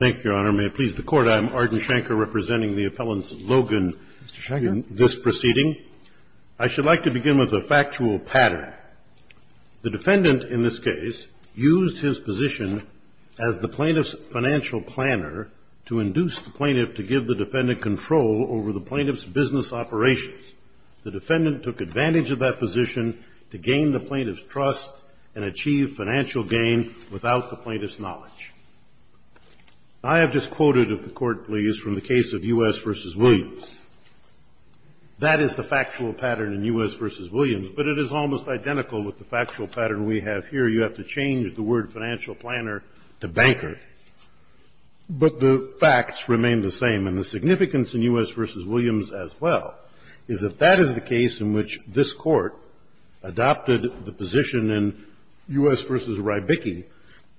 Thank you, Your Honor. May it please the Court, I am Arden Schenker representing the appellant, Logan, in this proceeding. I should like to begin with a factual pattern. The defendant, in this case, used his position as the plaintiff's financial planner to induce the plaintiff to give the defendant control over the plaintiff's business operations. The defendant took advantage of that position to gain the plaintiff's trust and achieve financial gain without the plaintiff's knowledge. I have disquoted, if the Court please, from the case of U.S. v. Williams. That is the factual pattern in U.S. v. Williams, but it is almost identical with the factual pattern we have here. You have to change the word financial planner to banker. But the facts remain the same, and the significance in U.S. v. Williams, as well, is that that is the case in which this Court adopted the position in U.S. v. Rybicki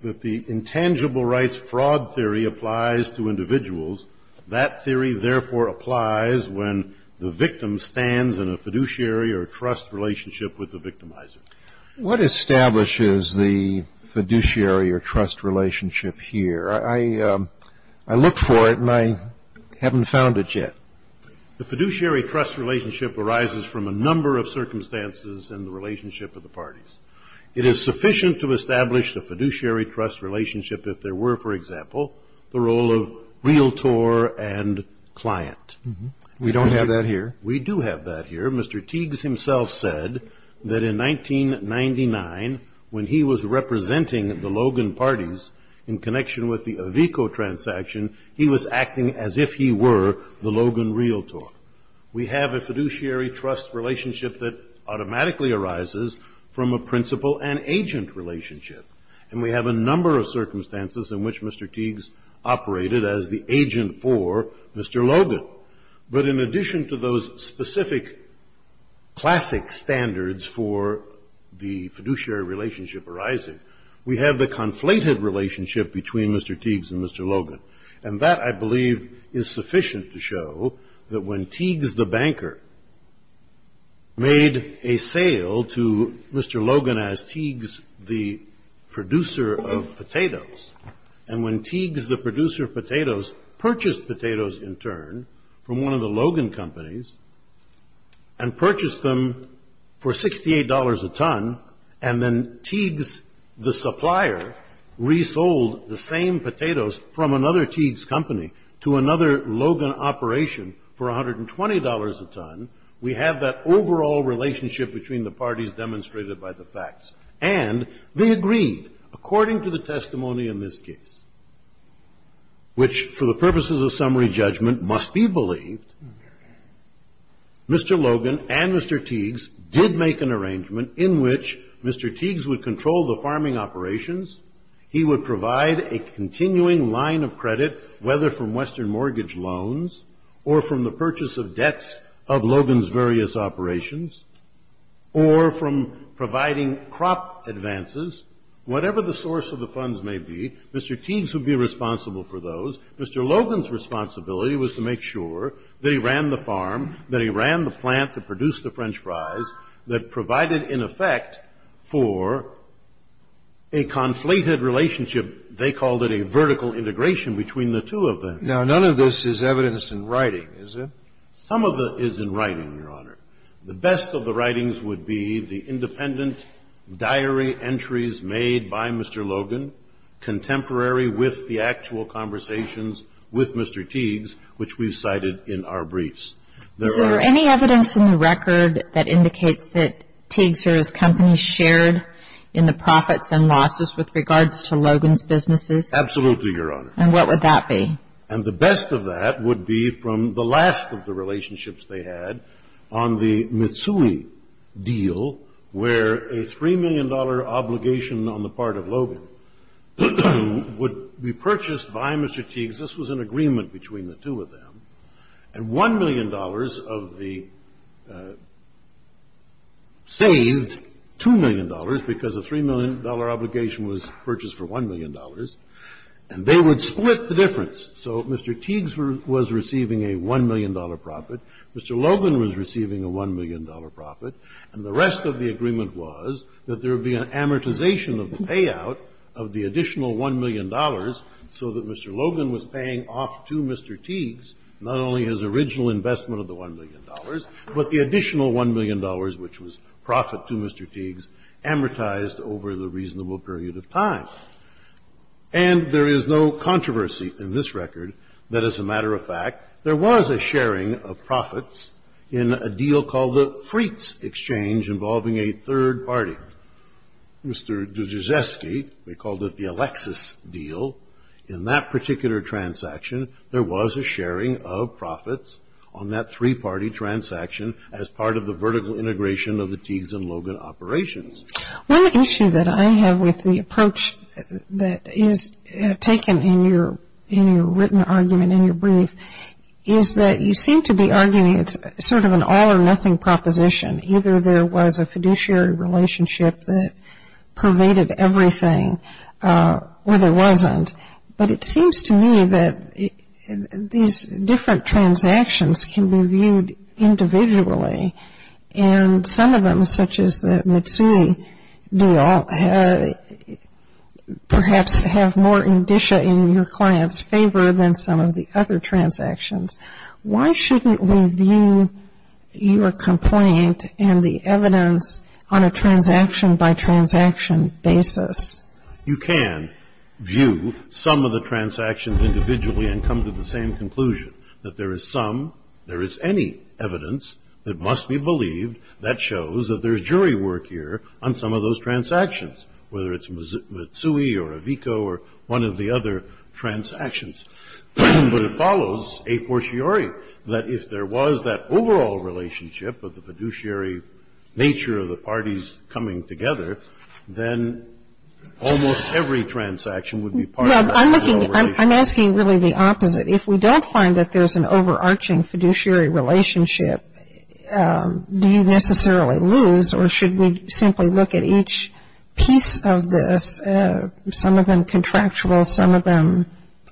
that the intangible rights fraud theory applies to individuals. That theory, therefore, applies when the victim stands in a fiduciary or trust relationship with the victimizer. What establishes the fiduciary or trust relationship here? I look for it, and I haven't found it yet. The fiduciary trust relationship arises from a number of circumstances in the relationship of the parties. It is sufficient to establish the fiduciary trust relationship if there were, for example, the role of realtor and client. We don't have that here. We do have that here. Mr. Teagues himself said that in 1999, when he was representing the Logan parties in connection with the Avico transaction, he was acting as if he were the Logan realtor. We have a fiduciary trust relationship that automatically arises from a principal and agent relationship. And we have a number of circumstances in which Mr. Teagues operated as the agent for Mr. Logan. But in addition to those specific classic standards for the fiduciary relationship arising, we have the conflated relationship between Mr. Teagues and Mr. Logan. And that, I believe, is sufficient to show that when Teagues the banker made a sale to Mr. Logan as Teagues the producer of potatoes, and when Teagues the producer of potatoes purchased potatoes in turn from one of the Logan companies and purchased them for $68 a ton, and then Teagues the supplier resold the same potatoes from another Teagues company to another Logan operation for $120 a ton, we have that overall relationship between the parties demonstrated by the facts. And they agreed, according to the testimony in this case, which for the purposes of summary judgment must be believed, Mr. Logan and Mr. Teagues did make an arrangement in which Mr. Teagues would control the farming operations, he would provide a continuing line of credit, whether from Western mortgage loans or from the purchase of debts of Logan's various operations, or from providing crop advances, whatever the source of the funds may be, Mr. Teagues would be responsible for those. Mr. Logan's responsibility was to make sure that he ran the farm, that he ran the plant to produce the French fries that provided, in effect, for a conflated relationship, they called it a vertical integration between the two of them. Now, none of this is evidenced in writing, is it? Some of it is in writing, Your Honor. The best of the writings would be the independent diary entries made by Mr. Logan, contemporary with the actual conversations with Mr. Teagues, which we've cited in our briefs. Is there any evidence in the record that indicates that Teagues or his company shared in the profits and losses with regards to Logan's businesses? Absolutely, Your Honor. And what would that be? And the best of that would be from the last of the relationships they had on the Mitsui deal, where a $3 million obligation on the part of Logan would be purchased by Mr. Teagues. This was an agreement between the two of them. And $1 million of the saved $2 million, because a $3 million obligation was purchased for $1 million. And they would split the difference. So Mr. Teagues was receiving a $1 million profit. Mr. Logan was receiving a $1 million profit. And the rest of the agreement was that there would be an amortization of the payout of the additional $1 million so that Mr. Logan was paying off to Mr. Teagues not only his original investment of the $1 million, but the additional $1 million, which was profit to Mr. Teagues, amortized over the reasonable period of time. And there is no controversy in this record that, as a matter of fact, there was a sharing of profits in a deal called the Freets Exchange involving a third party. Mr. Duzeski, they called it the Alexis deal. In that particular transaction, there was a sharing of profits on that three-party transaction as part of the vertical integration of the Teagues and Logan operations. One issue that I have with the approach that is taken in your written argument, in your brief, is that you seem to be arguing it's sort of an all-or-nothing proposition. Either there was a fiduciary relationship that pervaded everything, or there wasn't. But it seems to me that these different transactions can be viewed individually. And some of them, such as the Mitsui deal, perhaps have more indicia in your client's favor than some of the other transactions. Why shouldn't we view your complaint and the evidence on a transaction-by-transaction basis? You can view some of the transactions individually and come to the same conclusion. That there is some, there is any evidence that must be believed that shows that there's jury work here on some of those transactions, whether it's Mitsui or Avico or one of the other transactions. But it follows a fortiori that if there was that overall relationship of the fiduciary nature of the parties coming together, then almost every transaction would be part of that. No, I'm looking, I'm asking really the opposite. If we don't find that there's an overarching fiduciary relationship, do you necessarily lose? Or should we simply look at each piece of this, some of them contractual, some of them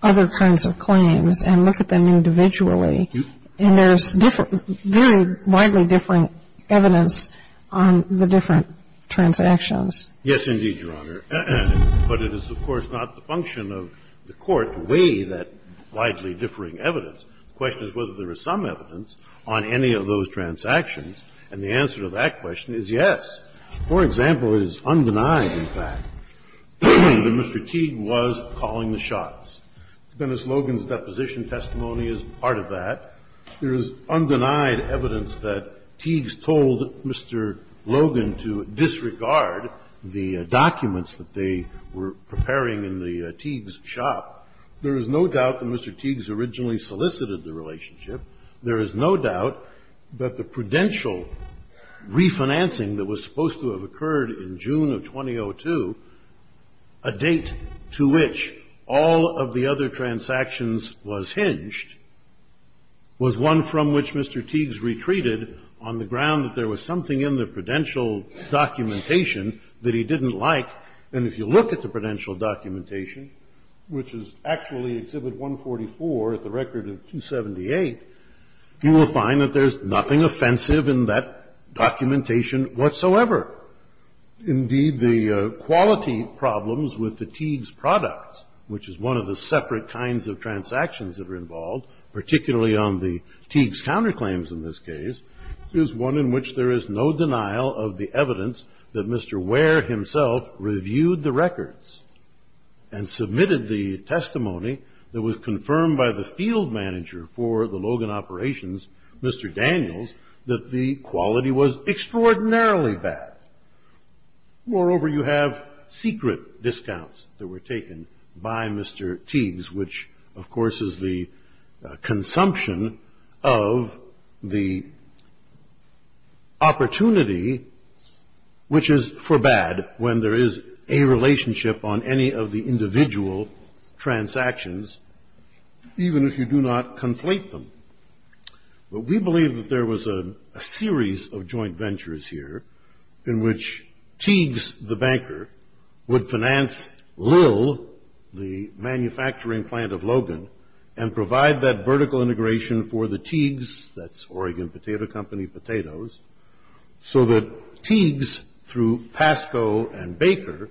other kinds of claims, and look at them individually? And there's very widely different evidence on the different transactions. Yes, indeed, Your Honor. But it is, of course, not the function of the Court to weigh that widely differing evidence. The question is whether there is some evidence on any of those transactions. And the answer to that question is yes. For example, it is undenied, in fact, that Mr. Teague was calling the shots. Dennis Logan's deposition testimony is part of that. There is undenied evidence that Teague's told Mr. Logan to disregard the documents that they were preparing in the Teague's shop. There is no doubt that Mr. Teague's originally solicited the relationship. There is no doubt that the prudential refinancing that was supposed to have occurred in June of 2002, a date to which all of the other transactions was hinged, was one from which Mr. Teague's retreated on the ground that there was something in the prudential documentation that he didn't like. And if you look at the prudential documentation, which is actually Exhibit 144, at the record of 278, you will find that there's nothing offensive in that documentation whatsoever. Indeed, the quality problems with the Teague's products, which is one of the separate kinds of transactions that are involved, particularly on the Teague's counterclaims in this case, is one in which there is no denial of the evidence that Mr. Ware himself reviewed the records and submitted the testimony that was confirmed by the field manager for the Logan operations, Mr. Daniels, that the quality was extraordinarily bad. Moreover, you have secret discounts that were taken by Mr. Teague's, which of course is the consumption of the opportunity, which is for bad when there is a relationship on any of the individual transactions, even if you do not conflate them. But we believe that there was a series of joint ventures here in which Teague's, the banker, would finance Lill, the manufacturing plant of Logan, and provide that vertical integration for the Teague's, that's Oregon Potato Company, Potatoes, so that Teague's, through Pasco and Baker,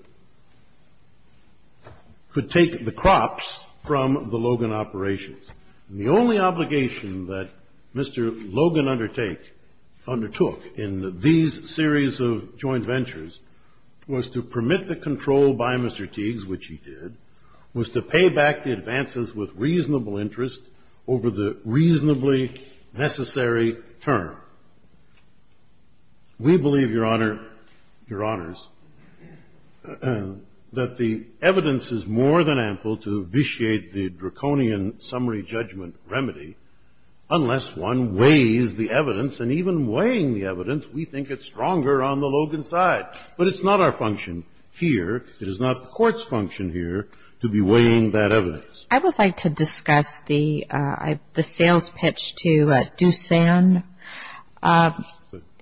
could take the crops from the Logan operations. And the only obligation that Mr. Logan undertook in these series of joint ventures was to permit the control by Mr. Teague's, which he did, was to pay back the advances with reasonable interest over the reasonably necessary term. We believe, Your Honor, Your Honors, that the evidence is more than ample to be a judgment remedy, unless one weighs the evidence. And even weighing the evidence, we think it's stronger on the Logan side. But it's not our function here, it is not the court's function here, to be weighing that evidence. I would like to discuss the sales pitch to Doosan.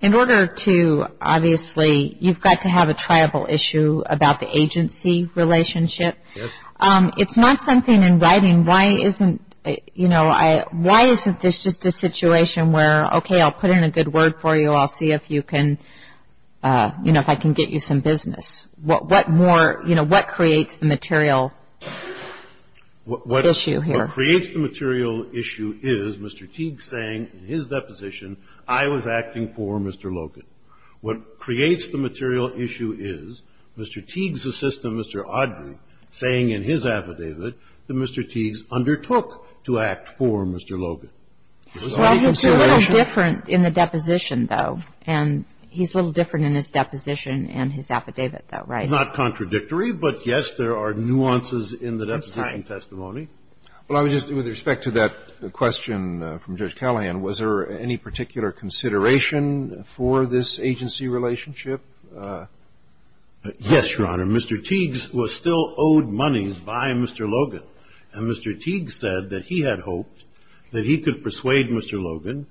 In order to, obviously, you've got to have a triable issue about the agency relationship. Yes. It's not something in writing. Why isn't, you know, why isn't this just a situation where, okay, I'll put in a good word for you, I'll see if you can, you know, if I can get you some business? What more, you know, what creates the material issue here? What creates the material issue is Mr. Teague saying, in his deposition, I was acting for Mr. Logan. What creates the material issue is Mr. Teague's assistant, Mr. Audrey, saying in his affidavit that Mr. Teague undertook to act for Mr. Logan. Well, he's a little different in the deposition, though. And he's a little different in his deposition and his affidavit, though, right? Not contradictory, but, yes, there are nuances in the deposition testimony. Well, I was just, with respect to that question from Judge Kelleyan, was there any particular consideration for this agency relationship? Yes, Your Honor. Mr. Teague was still owed monies by Mr. Logan. And Mr. Teague said that he had hoped that he could persuade Mr. Logan,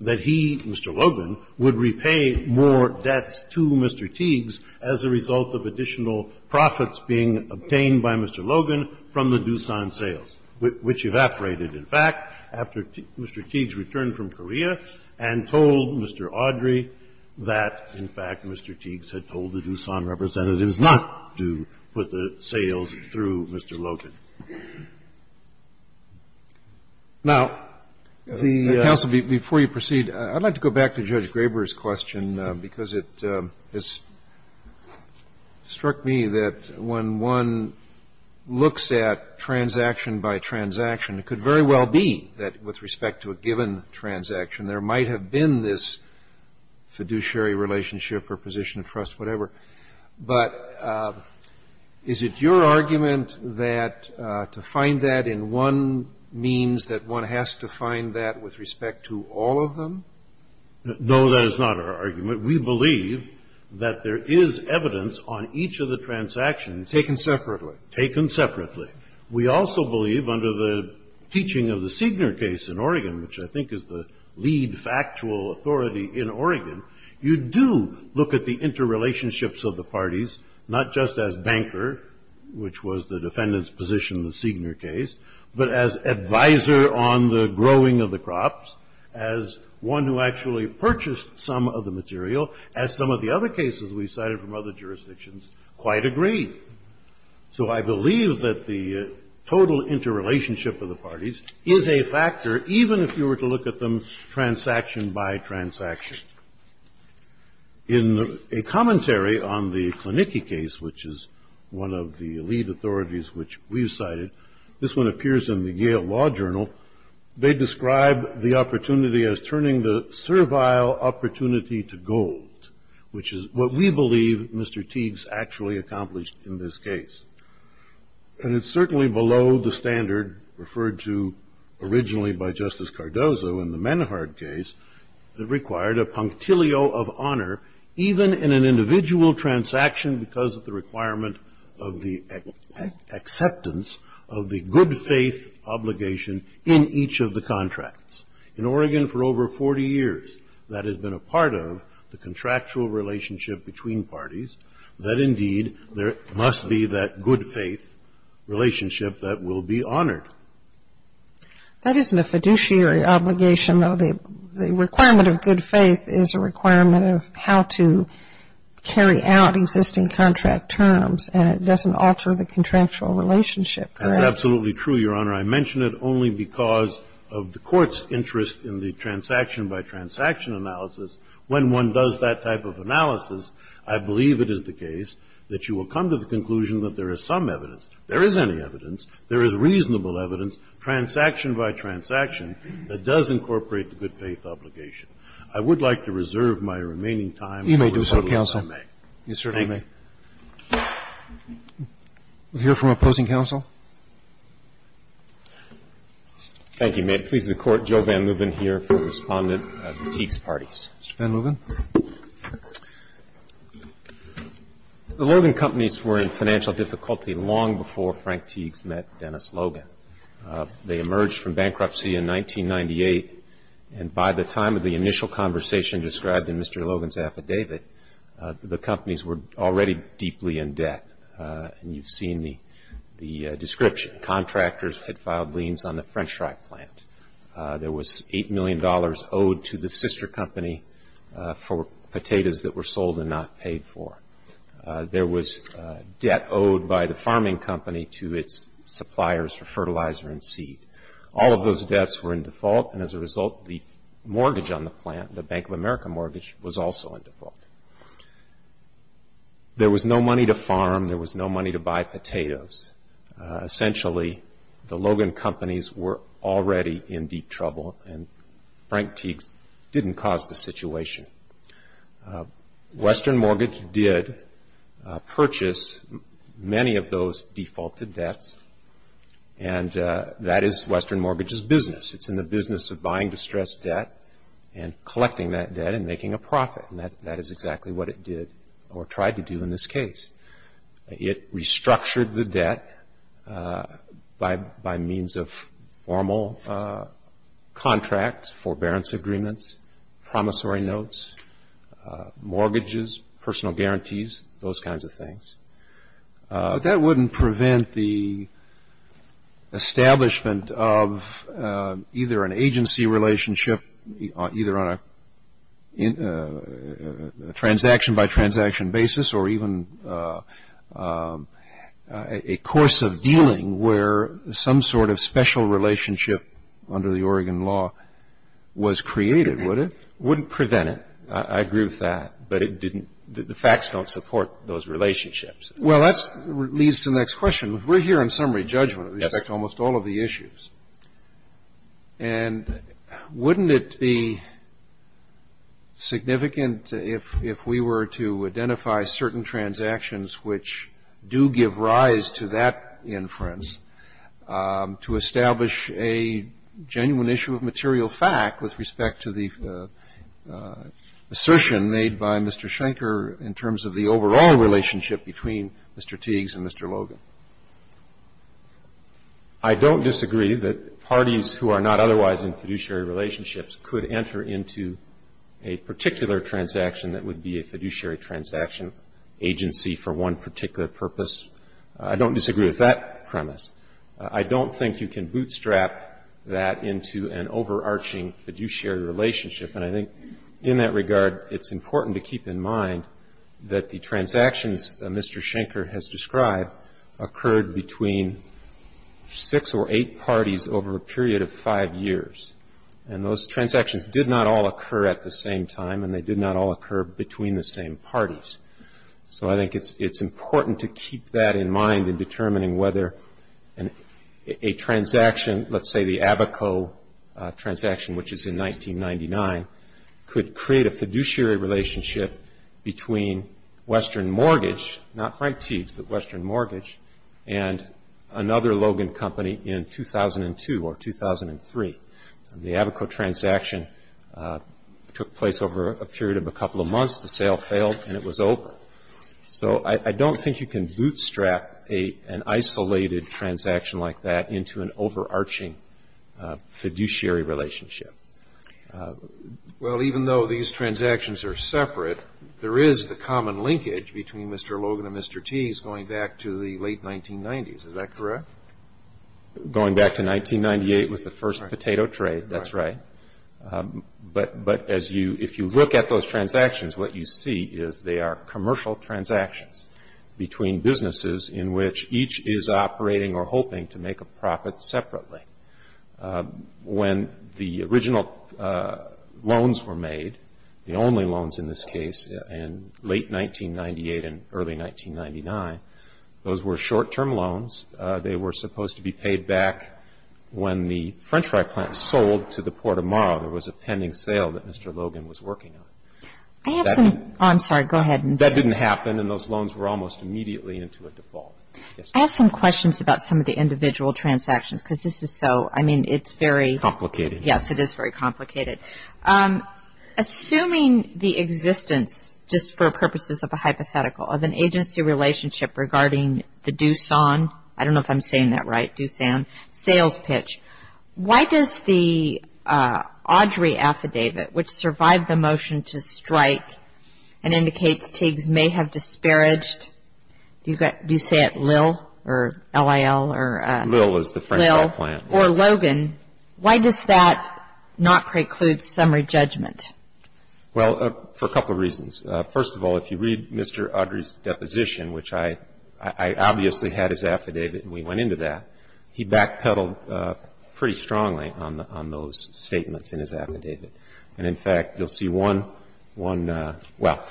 that he, Mr. Logan, would repay more debts to Mr. Teague's as a result of additional profits being obtained by Mr. Logan from the Doosan sales. Which evaporated, in fact, after Mr. Teague returned from Korea and told Mr. Audrey that, in fact, Mr. Teague had told the Doosan representatives not to put the sales through Mr. Logan. Now, counsel, before you proceed, I'd like to go back to Judge Graber's question, because it struck me that when one looks at transaction by transaction, it could very well be that with respect to a given transaction, there might have been this fiduciary relationship or position of trust, whatever. But is it your argument that to find that in one means that one has to find that with respect to all of them? No, that is not our argument. We believe that there is evidence on each of the transactions. Taken separately. Taken separately. We also believe, under the teaching of the Signer case in Oregon, which I think is the lead factual authority in Oregon, you do look at the interrelationships of the parties, not just as banker, which was the defendant's position in the Signer case, but as advisor on the growing of the crops, as one who actually purchased some of the material, as some of the other cases we cited from other jurisdictions quite agree. So I believe that the total interrelationship of the parties is a factor, even if you were to look at them transaction by transaction. In a commentary on the Klinicki case, which is one of the lead authorities which we cited, this one appears in the Yale Law Journal, they describe the opportunity as turning the servile opportunity to gold, which is what we believe Mr. Teague's actually accomplished in this case. And it's certainly below the standard referred to originally by Justice Cardozo in the Menhard case that required a punctilio of honor, even in an individual transaction, because of the requirement of the acceptance of the good faith obligation in each of the contracts. In Oregon, for over 40 years, that has been a part of the contractual relationship between parties, that indeed there must be that good faith relationship that will be honored. That isn't a fiduciary obligation, though. The requirement of good faith is a requirement of how to carry out existing contract terms, and it doesn't alter the contractual relationship, correct? That's absolutely true, Your Honor. I mention it only because of the Court's interest in the transaction by transaction analysis. When one does that type of analysis, I believe it is the case that you will come to the conclusion that there is some evidence, there is any evidence, there is reasonable evidence, transaction by transaction, that does incorporate the good faith obligation. I would like to reserve my remaining time for the Court of Appeals. You may do so, counsel. You certainly may. We'll hear from opposing counsel. Thank you, ma'am. I'm pleased to court Joe Van Lubben here for the respondent of Teague's parties. Mr. Van Lubben? The Logan Companies were in financial difficulty long before Frank Teague's met Dennis Logan. They emerged from bankruptcy in 1998, and by the time of the initial conversation described in Mr. Logan's affidavit, the companies were already deeply in debt. And you've seen the description. Contractors had filed liens on the French strike plant. There was $8 million owed to the sister company for potatoes that were sold and not paid for. There was debt owed by the farming company to its suppliers for fertilizer and seed. All of those debts were in default, and as a result, the mortgage on the plant, the Bank of America mortgage, was also in default. There was no money to farm. There was no money to buy potatoes. Essentially, the Logan Companies were already in deep trouble, and Frank Teague's didn't cause the situation. Western Mortgage did purchase many of those defaulted debts, and that is Western Mortgage's business. It's in the business of buying distressed debt and collecting that debt and making a profit, and that is exactly what it did or tried to do in this case. It restructured the debt by means of formal contracts, forbearance agreements, promissory notes, mortgages, personal guarantees, those kinds of things. That wouldn't prevent the establishment of either an agency relationship, either on a transaction-by-transaction basis or even a course of dealing where some sort of special relationship under the Oregon law was created, would it? Wouldn't prevent it. I agree with that, but the facts don't support those relationships. Well, that leads to the next question. We're here on summary judgment of almost all of the issues, and wouldn't it be significant if we were to identify certain transactions which do give rise to that inference to establish a genuine issue of material fact with respect to the assertion made by Mr. Schenker in terms of the overall relationship between Mr. Teagues and Mr. Logan? I don't disagree that parties who are not otherwise in fiduciary relationships could enter into a particular transaction that would be a fiduciary transaction agency for one particular purpose. I don't disagree with that premise. I don't think you can bootstrap that into an overarching fiduciary relationship, and I think in that regard, it's important to keep in mind that the transactions that Mr. Schenker has described occurred between six or eight parties over a period of five years, and those transactions did not all occur at the same time, and they did not all occur between the same parties. So I think it's important to keep that in mind in determining whether a transaction, let's say the Abaco transaction, which is in 1999, could create a fiduciary relationship between Western Mortgage, not Frank Teagues, but Western Mortgage, and another Logan company in 2002 or 2003. The Abaco transaction took place over a period of a couple of months. The sale failed, and it was over. So I don't think you can bootstrap an isolated transaction like that into an overarching fiduciary relationship. Well, even though these transactions are separate, there is the common linkage between Mr. Logan and Mr. Teagues going back to the late 1990s. Is that correct? Going back to 1998 was the first potato trade. That's right. But if you look at those transactions, what you see is they are commercial transactions between businesses in which each is operating or hoping to make a profit separately. When the original loans were made, the only loans in this case in late 1998 and early 1999, those were short-term loans. They were supposed to be paid back when the French fry plant sold to the Port of Morrow. There was a pending sale that Mr. Logan was working on. I have some... I'm sorry, go ahead. That didn't happen, and those loans were almost immediately into a default. I have some questions about some of the individual transactions, because this is so... I mean, it's very... Complicated. Yes, it is very complicated. Assuming the existence, just for purposes of a hypothetical, of an agency relationship regarding the Doosan, I don't know if I'm saying that right, Doosan, sales pitch, why does the Audrey affidavit, which survived the motion to strike and indicates Teagues may have disparaged, do you say it Lil or L-I-L or... Lil is the French fry plant. Or Logan, why does that not preclude summary judgment? Well, for a couple of reasons. First of all, if you read Mr. Audrey's deposition, which I obviously had his affidavit and we went into that, he backpedaled pretty strongly on those statements in his affidavit. And in fact, you'll see one, well,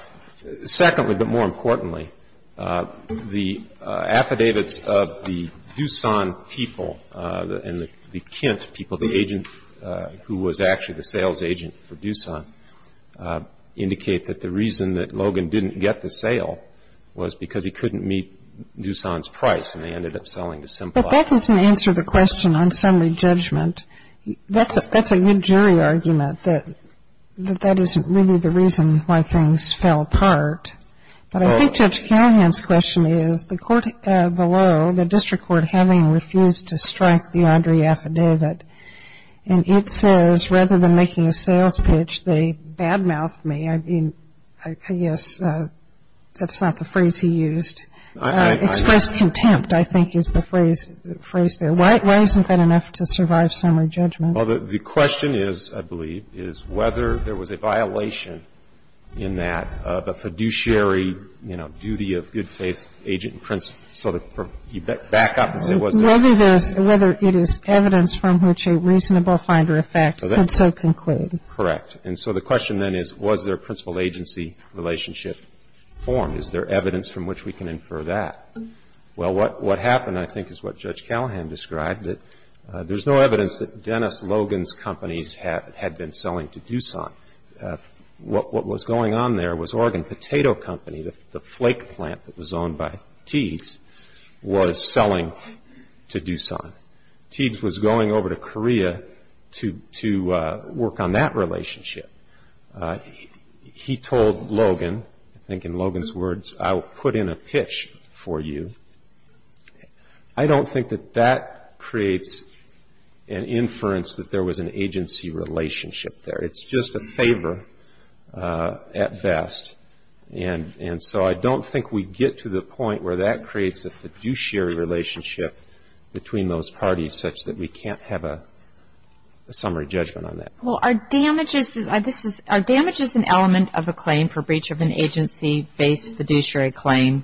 secondly, but more importantly, the affidavits of the Doosan people and the Kent people, the agent who was actually the sales agent for Doosan, indicate that the reason that Logan didn't get the sale was because he couldn't meet Doosan's price and they ended up selling to Simplot. But that doesn't answer the question on summary judgment. That's a good jury argument that that isn't really the reason why things fell apart. But I think Judge Callahan's question is, the court below, the district court having refused to strike the Audrey affidavit, and it says, rather than making a sales pitch, they bad-mouthed me. I mean, I guess that's not the phrase he used. Expressed contempt, I think, is the phrase there. Why isn't that enough to survive summary judgment? Well, the question is, I believe, is whether there was a violation in that, of a fiduciary, you know, duty of good faith agent and principal, so that you back up and say was there? Whether it is evidence from which a reasonable finder of fact could so conclude. Correct. And so the question then is, was there a principal agency relationship formed? Is there evidence from which we can infer that? Well, what happened, I think, is what Judge Callahan described, that there's no evidence that Dennis Logan's companies had been selling to Doosan. What was going on there was Oregon Potato Company, the flake plant that was owned by Teagues, was selling to Doosan. Teagues was going over to Korea to work on that relationship. He told Logan, I think in Logan's words, I'll put in a pitch for you. I don't think that that creates an inference that there was an agency relationship there. It's just a favor at best. And so I don't think we get to the point where that creates a fiduciary relationship between those parties such that we can't have a summary judgment on that. Well, are damages, this is, are damages an element of a claim for breach of an agency-based The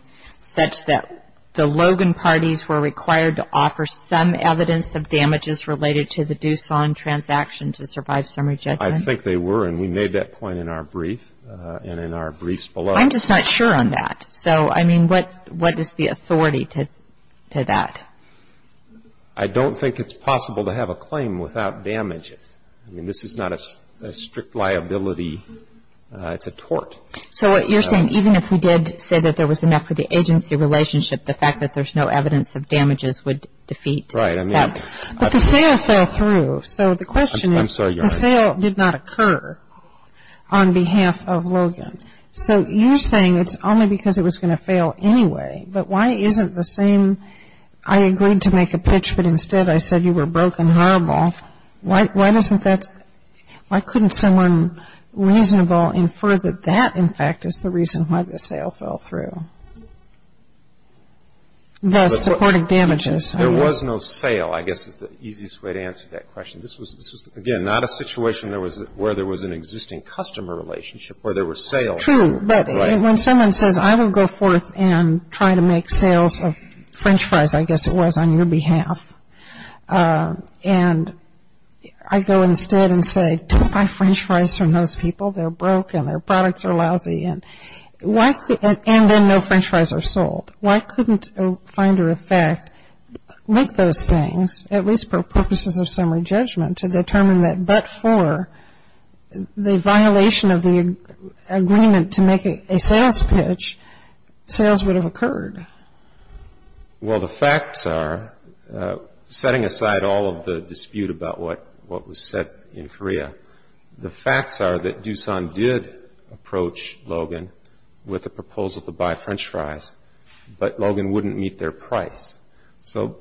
Logan parties were required to offer some evidence of damages related to the Doosan transaction to survive summary judgment? I think they were, and we made that point in our brief, and in our briefs below. I'm just not sure on that. So, I mean, what is the authority to that? I don't think it's possible to have a claim without damages. I mean, this is not a strict liability, it's a tort. So what you're saying, even if we did say that there was enough for the agency relationship, the fact that there's no evidence of damages would defeat that. Right. But the sale fell through. So the question is, the sale did not occur on behalf of Logan. So you're saying it's only because it was going to fail anyway. But why isn't the same, I agreed to make a pitch, but instead I said you were broke and horrible. Why doesn't that, why couldn't someone reasonable infer that that, in fact, is the reason why the sale fell through, thus supporting damages? There was no sale, I guess, is the easiest way to answer that question. This was, again, not a situation where there was an existing customer relationship, where there were sales. True. But when someone says, I will go forth and try to make sales of french fries, I guess it was, on your behalf, and I go instead and say, take my french fries from those people, they're broke and their products are lousy. And then no french fries are sold. Why couldn't a finder of fact make those things, at least for purposes of summary judgment, to determine that but for the violation of the agreement to make a sales pitch, sales would have occurred? Well, the facts are, setting aside all of the dispute about what was said in Korea, the facts are that Doosan did approach Logan with a proposal to buy french fries, but Logan wouldn't meet their price. So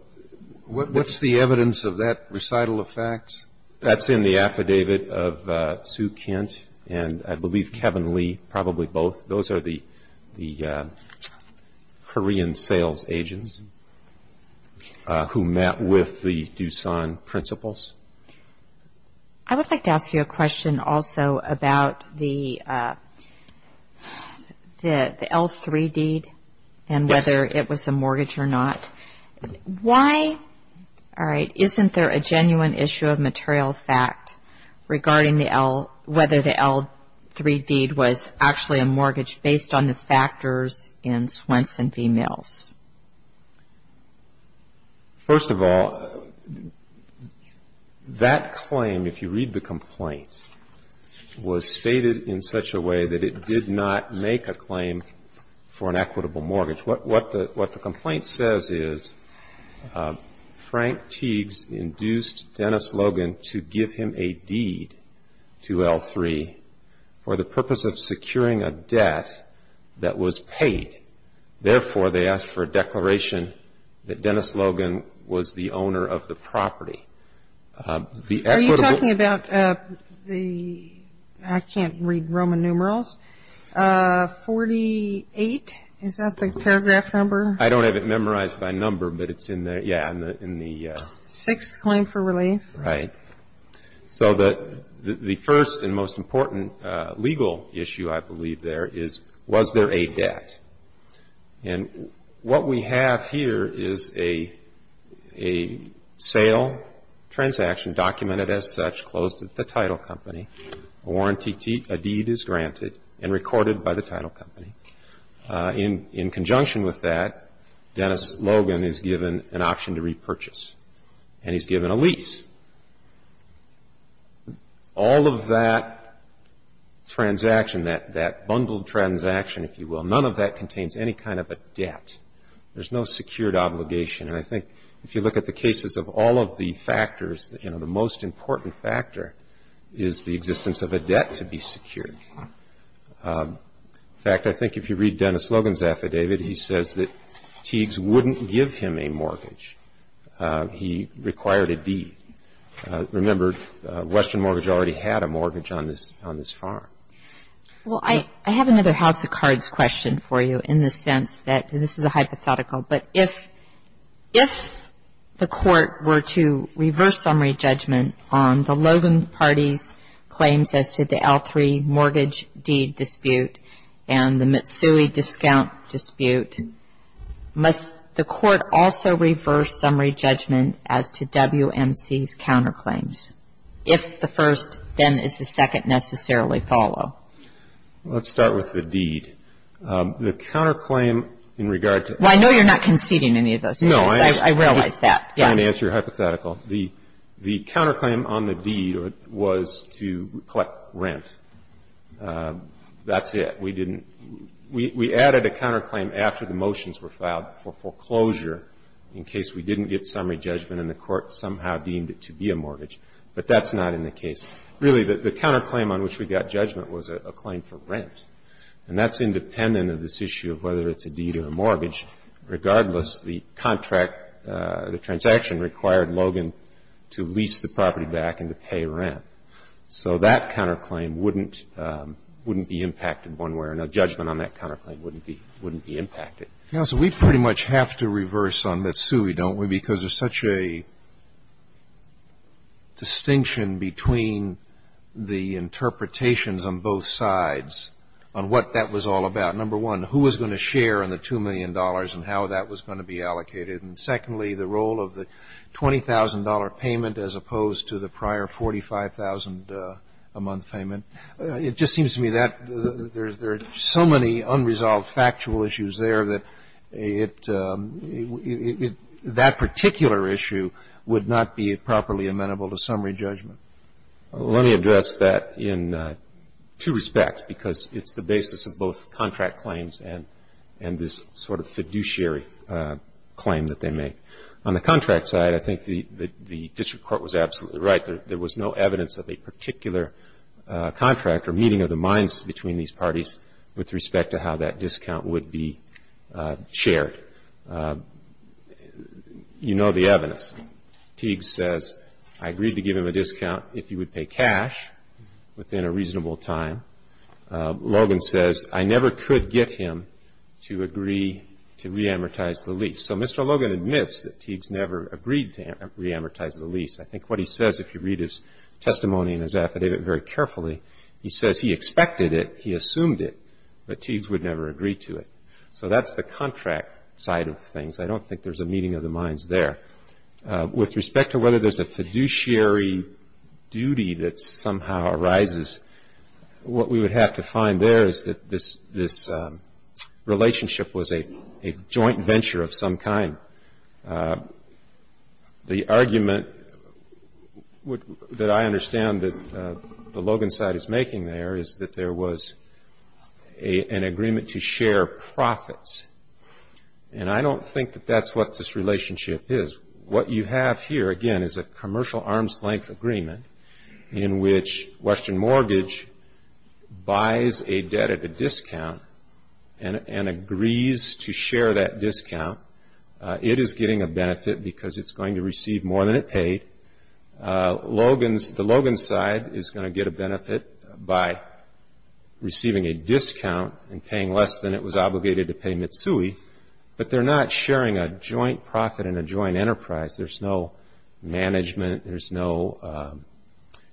what's the evidence of that recital of facts? That's in the affidavit of Sue Kent and, I believe, Kevin Lee, probably both. Those are the Korean sales agents who met with the Doosan principals. I would like to ask you a question also about the L3 deed and whether it was a mortgage or not. Why isn't there a genuine issue of material fact regarding whether the L3 deed was actually a mortgage based on the factors in Swenson v. Mills? First of all, that claim, if you read the complaint, was stated in such a way that it did not make a claim for an equitable mortgage. What the complaint says is Frank Teagues induced Dennis Logan to give him a deed to L3 for the purpose of securing a debt that was paid. Therefore, they asked for a declaration that Dennis Logan was the owner of the property. Are you talking about the, I can't read Roman numerals, 48? Is that the paragraph number? I don't have it memorized by number, but it's in there, yeah, in the... Sixth claim for relief. Right. So the first and most important legal issue, I believe, there is, was there a debt? And what we have here is a sale transaction documented as such, closed at the title company. A deed is granted and recorded by the title company. In conjunction with that, Dennis Logan is given an option to repurchase and he's given a lease. All of that transaction, that bundled transaction, if you will, none of that contains any kind of a debt. There's no secured obligation, and I think if you look at the cases of all of the factors, you know, the most important factor is the existence of a debt to be secured. In fact, I think if you read Dennis Logan's affidavit, he says that Teagues wouldn't give him a mortgage. He required a deed. Remember, Western Mortgage already had a mortgage on this farm. Well, I have another house of cards question for you in the sense that this is a hypothetical, but if the Court were to reverse summary judgment on the Logan party's claims as to the L3 mortgage deed dispute and the Mitsui discount dispute, must the Court also reverse summary judgment as to WMC's counterclaims? If the first, then is the second necessarily follow? Let's start with the deed. The counterclaim in regard to the deed was to collect rent. That's it. We didn't we added a counterclaim after the motions were filed for foreclosure in case we didn't get summary judgment and the Court somehow deemed it to be a mortgage. But that's not in the case. Really, the counterclaim on which we got judgment was a claim for rent. And that's independent of this issue of whether it's a deed or a mortgage. Regardless, the contract, the transaction required Logan to lease the property back and to pay rent. So that counterclaim wouldn't be impacted one way or another. Judgment on that counterclaim wouldn't be impacted. Counsel, we pretty much have to reverse on Mitsui, don't we, because there's such a distinction between the interpretations on both sides on what that was all about. Number one, who was going to share in the $2 million and how that was going to be allocated. And secondly, the role of the $20,000 payment as opposed to the prior $45,000 a month payment. It just seems to me that there's so many unresolved factual issues there that it that particular issue would not be properly amenable to summary judgment. Let me address that in two respects, because it's the basis of both contract claims and this sort of fiduciary claim that they make. On the contract side, I think the district court was absolutely right. There was no evidence of a particular contract or meeting of the minds between these parties with respect to how that discount would be shared. You know the evidence. Teague says, I agreed to give him a discount if he would pay cash within a reasonable time. Logan says, I never could get him to agree to re-amortize the lease. So Mr. Logan admits that Teagues never agreed to re-amortize the lease. I think what he says, if you read his testimony in his affidavit very carefully, he says he expected it, he assumed it, but Teagues would never agree to it. So that's the contract side of things. I don't think there's a meeting of the minds there. With respect to whether there's a fiduciary duty that somehow arises. What we would have to find there is that this relationship was a joint venture of some kind. The argument that I understand that the Logan side is making there is that there was an agreement to share profits. And I don't think that that's what this relationship is. What you have here, again, is a commercial arm's length agreement in which Western Mortgage buys a debt at a discount and agrees to share that discount. It is getting a benefit because it's going to receive more than it paid. The Logan side is going to get a benefit by receiving a discount and paying less than it was obligated to pay Mitsui. But they're not sharing a joint profit and a joint enterprise. There's no management. There's no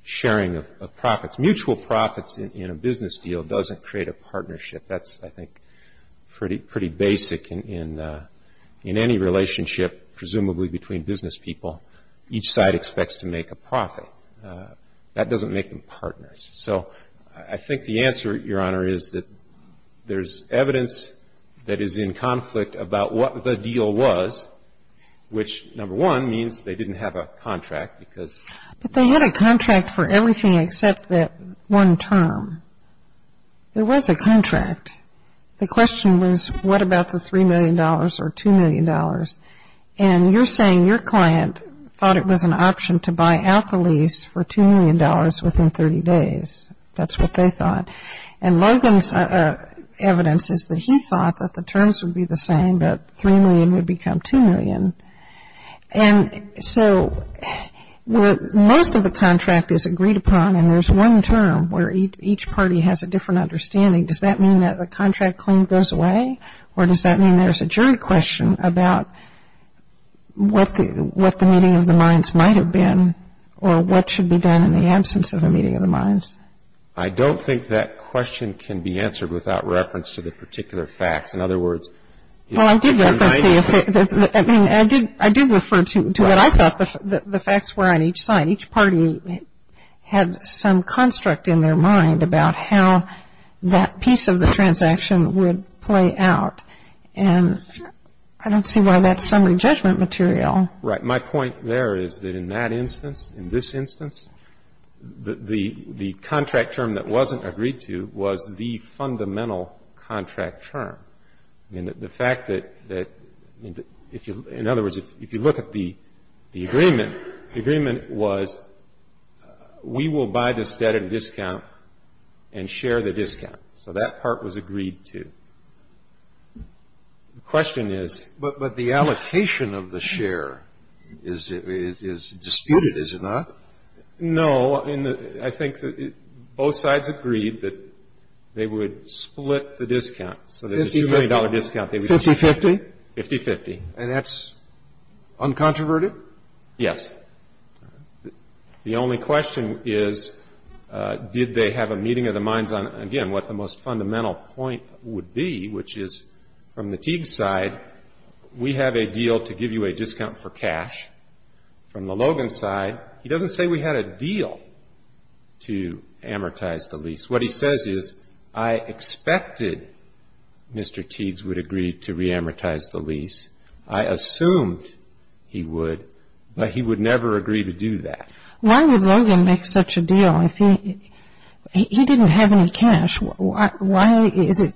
sharing of profits. Mutual profits in a business deal doesn't create a partnership. That's, I think, pretty basic in any relationship, presumably between business people. Each side expects to make a profit. That doesn't make them partners. So I think the answer, Your Honor, is that there's evidence that is in conflict about what the deal was. Which, number one, means they didn't have a contract because- But they had a contract for everything except that one term. There was a contract. The question was, what about the $3 million or $2 million? And you're saying your client thought it was an option to buy out the lease for $2 million within 30 days. That's what they thought. And Logan's evidence is that he thought that the terms would be the same, that $3 million would become $2 million. And so most of the contract is agreed upon, and there's one term where each party has a different understanding. Does that mean that the contract claim goes away? Or does that mean there's a jury question about what the meeting of the minds might have been, or what should be done in the absence of a meeting of the minds? I don't think that question can be answered without reference to the particular facts. In other words- Well, I do refer to what I thought the facts were on each side. Each party had some construct in their mind about how that piece of the transaction would play out, and I don't see why that's summary judgment material. Right. My point there is that in that instance, in this instance, the contract term that wasn't agreed to was the fundamental contract term. I mean, the fact that, in other words, if you look at the agreement, the agreement was we will buy this debt at a discount and share the discount. So that part was agreed to. The question is- But the allocation of the share is disputed, is it not? No. I mean, I think that both sides agreed that they would split the discount. So there's a $2 million discount. Fifty-fifty? Fifty-fifty. And that's uncontroverted? Yes. The only question is did they have a meeting of the minds on, again, what the most fundamental point would be, which is from the Teague side, we have a deal to give you a discount for cash. From the Logan side, he doesn't say we had a deal to amortize the lease. What he says is, I expected Mr. Teagues would agree to reamortize the lease. I assumed he would, but he would never agree to do that. Why would Logan make such a deal if he didn't have any cash? Why is it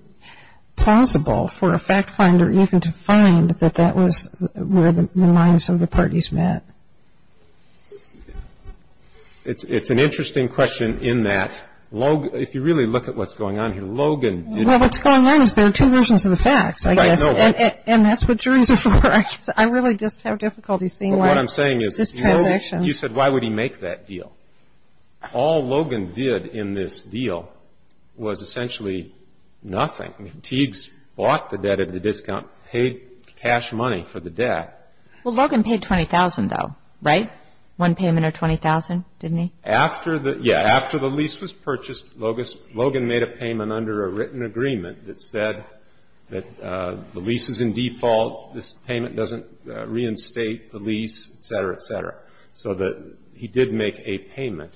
plausible for a fact finder even to find that that was where the minds of the parties met? It's an interesting question in that if you really look at what's going on here, Logan did... Well, what's going on is there are two versions of the facts, I guess, and that's what juries are for. I really just have difficulty seeing why this transaction... Well, what I'm saying is you said, why would he make that deal? All Logan did in this deal was essentially nothing. I mean, Teagues bought the debt at a discount, paid cash money for the debt. Well, Logan paid $20,000, though, right? One payment or $20,000, didn't he? After the lease was purchased, Logan made a payment under a written agreement that said that the lease is in default, this payment doesn't reinstate the lease, et cetera, et cetera. So that he did make a payment.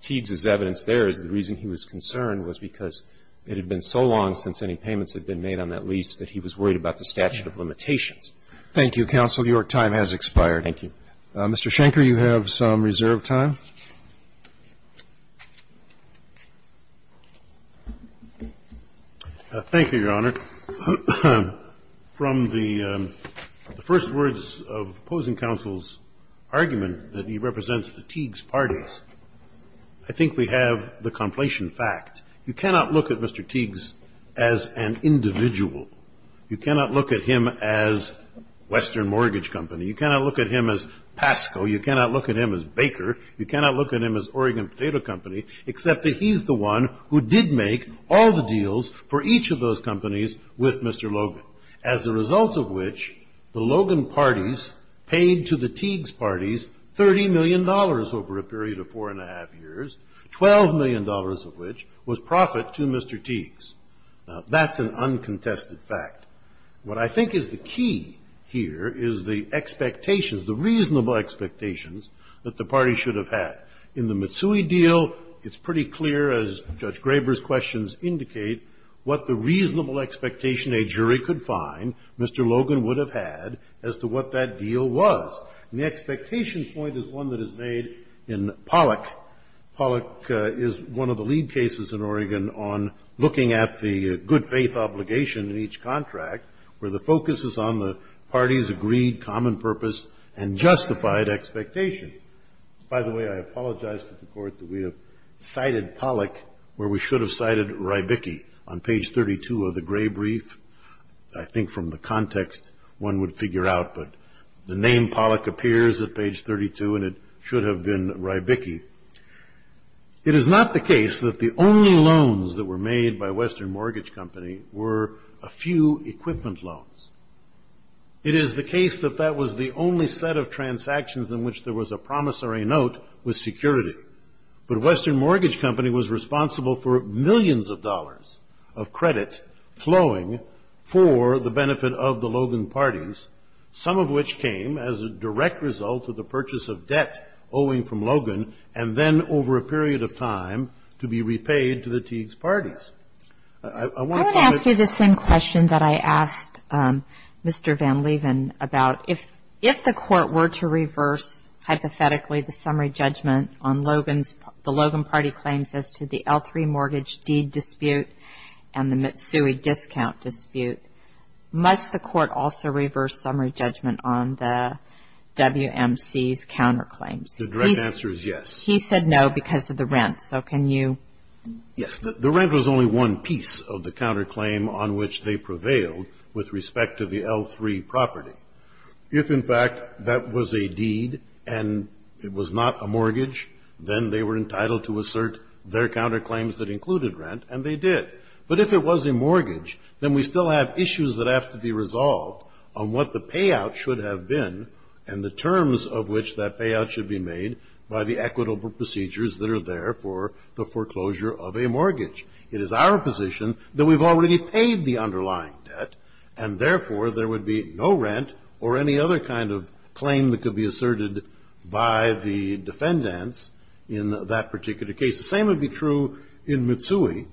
Teagues' evidence there is the reason he was concerned was because it had been so long since any payments had been made on that lease that he was worried about the statute of limitations. Thank you, counsel. Your time has expired. Thank you. Mr. Schenker, you have some reserved time. Thank you, Your Honor. From the first words of opposing counsel's argument that he represents the Teagues parties, I think we have the conflation fact. You cannot look at Mr. Teagues as an individual. You cannot look at him as Western Mortgage Company. You cannot look at him as Pasco. You cannot look at him as Baker. You cannot look at him as Oregon Potato Company, except that he's the one who did make all the deals for each of those companies with Mr. Logan. As a result of which, the Logan parties paid to the Teagues parties $30 million over a period of four and a half years, $12 million of which was profit to Mr. Teagues. Now, that's an uncontested fact. What I think is the key here is the expectations, the reasonable expectations that the party should have had. In the Mitsui deal, it's pretty clear, as Judge Graber's questions indicate, what the reasonable expectation a jury could find Mr. Logan would have had as to what that deal was. And the expectation point is one that is made in Pollack. Pollack is one of the lead cases in Oregon on looking at the good faith obligation in each contract, where the focus is on the party's agreed common purpose and justified expectation. By the way, I apologize to the court that we have cited Pollack, where we should have cited Rybicki on page 32 of the gray brief. I think from the context, one would figure out, but the name Pollack appears at page 32, and it should have been Rybicki. It is not the case that the only loans that were made by Western Mortgage Company were a few equipment loans. It is the case that that was the only set of transactions in which there was a promissory note with security. But Western Mortgage Company was responsible for millions of dollars of credit flowing for the benefit of the Logan parties, some of which came as a direct result of the purchase of debt owing from Logan, and then over a period of time to be repaid to the Teague's parties. I want to ask you the same question that I asked Mr. Van Leeuwen about. If the court were to reverse, hypothetically, the summary judgment on Logan's The Logan party claims as to the L3 mortgage deed dispute and the Mitsui discount dispute, must the court also reverse summary judgment on the WMC's counterclaims? The direct answer is yes. He said no because of the rent, so can you? Yes, the rent was only one piece of the counterclaim on which they prevailed with respect to the L3 property. If, in fact, that was a deed and it was not a mortgage, then they were entitled to assert their counterclaims that included rent, and they did. But if it was a mortgage, then we still have issues that have to be resolved on what the payout should have been and the terms of which that payout should be made by the equitable procedures that are there for the foreclosure of a mortgage. It is our position that we've already paid the underlying debt, and therefore, there would be no rent or any other kind of claim that could be asserted by the defendants in that particular case. The same would be true in Mitsui.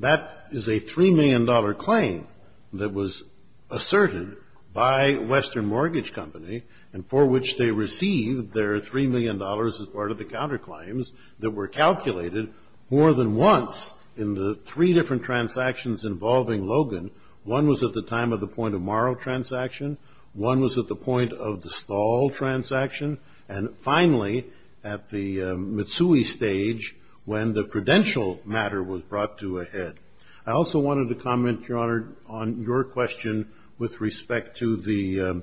That is a $3 million claim that was asserted by Western Mortgage Company, and for which they received their $3 million as part of the counterclaims that were calculated more than once in the three different transactions involving Logan. One was at the time of the point-of-morrow transaction. One was at the point of the stall transaction. And finally, at the Mitsui stage, when the credential matter was brought to a head. I also wanted to comment, Your Honor, on your question with respect to the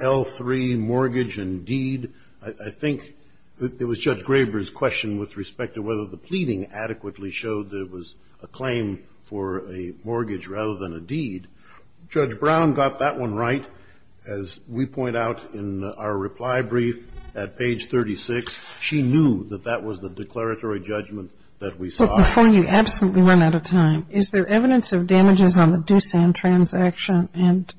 L3 mortgage and deed, I think it was Judge Graber's question with respect to whether the pleading adequately showed that it was a claim for a mortgage rather than a deed. Judge Brown got that one right, as we point out in our reply brief at page 36. She knew that that was the declaratory judgment that we saw. But before you absolutely run out of time, is there evidence of damages on the Doosan transaction? And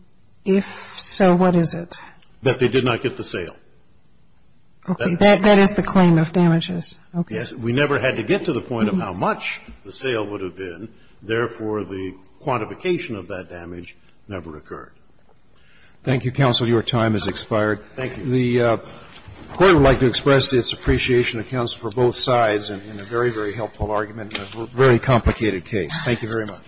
if so, what is it? That they did not get the sale. Okay. That is the claim of damages. Okay. We never had to get to the point of how much the sale would have been. Therefore, the quantification of that damage never occurred. Thank you, counsel. Your time has expired. Thank you. The Court would like to express its appreciation of counsel for both sides in a very, very helpful argument in a very complicated case. Thank you very much.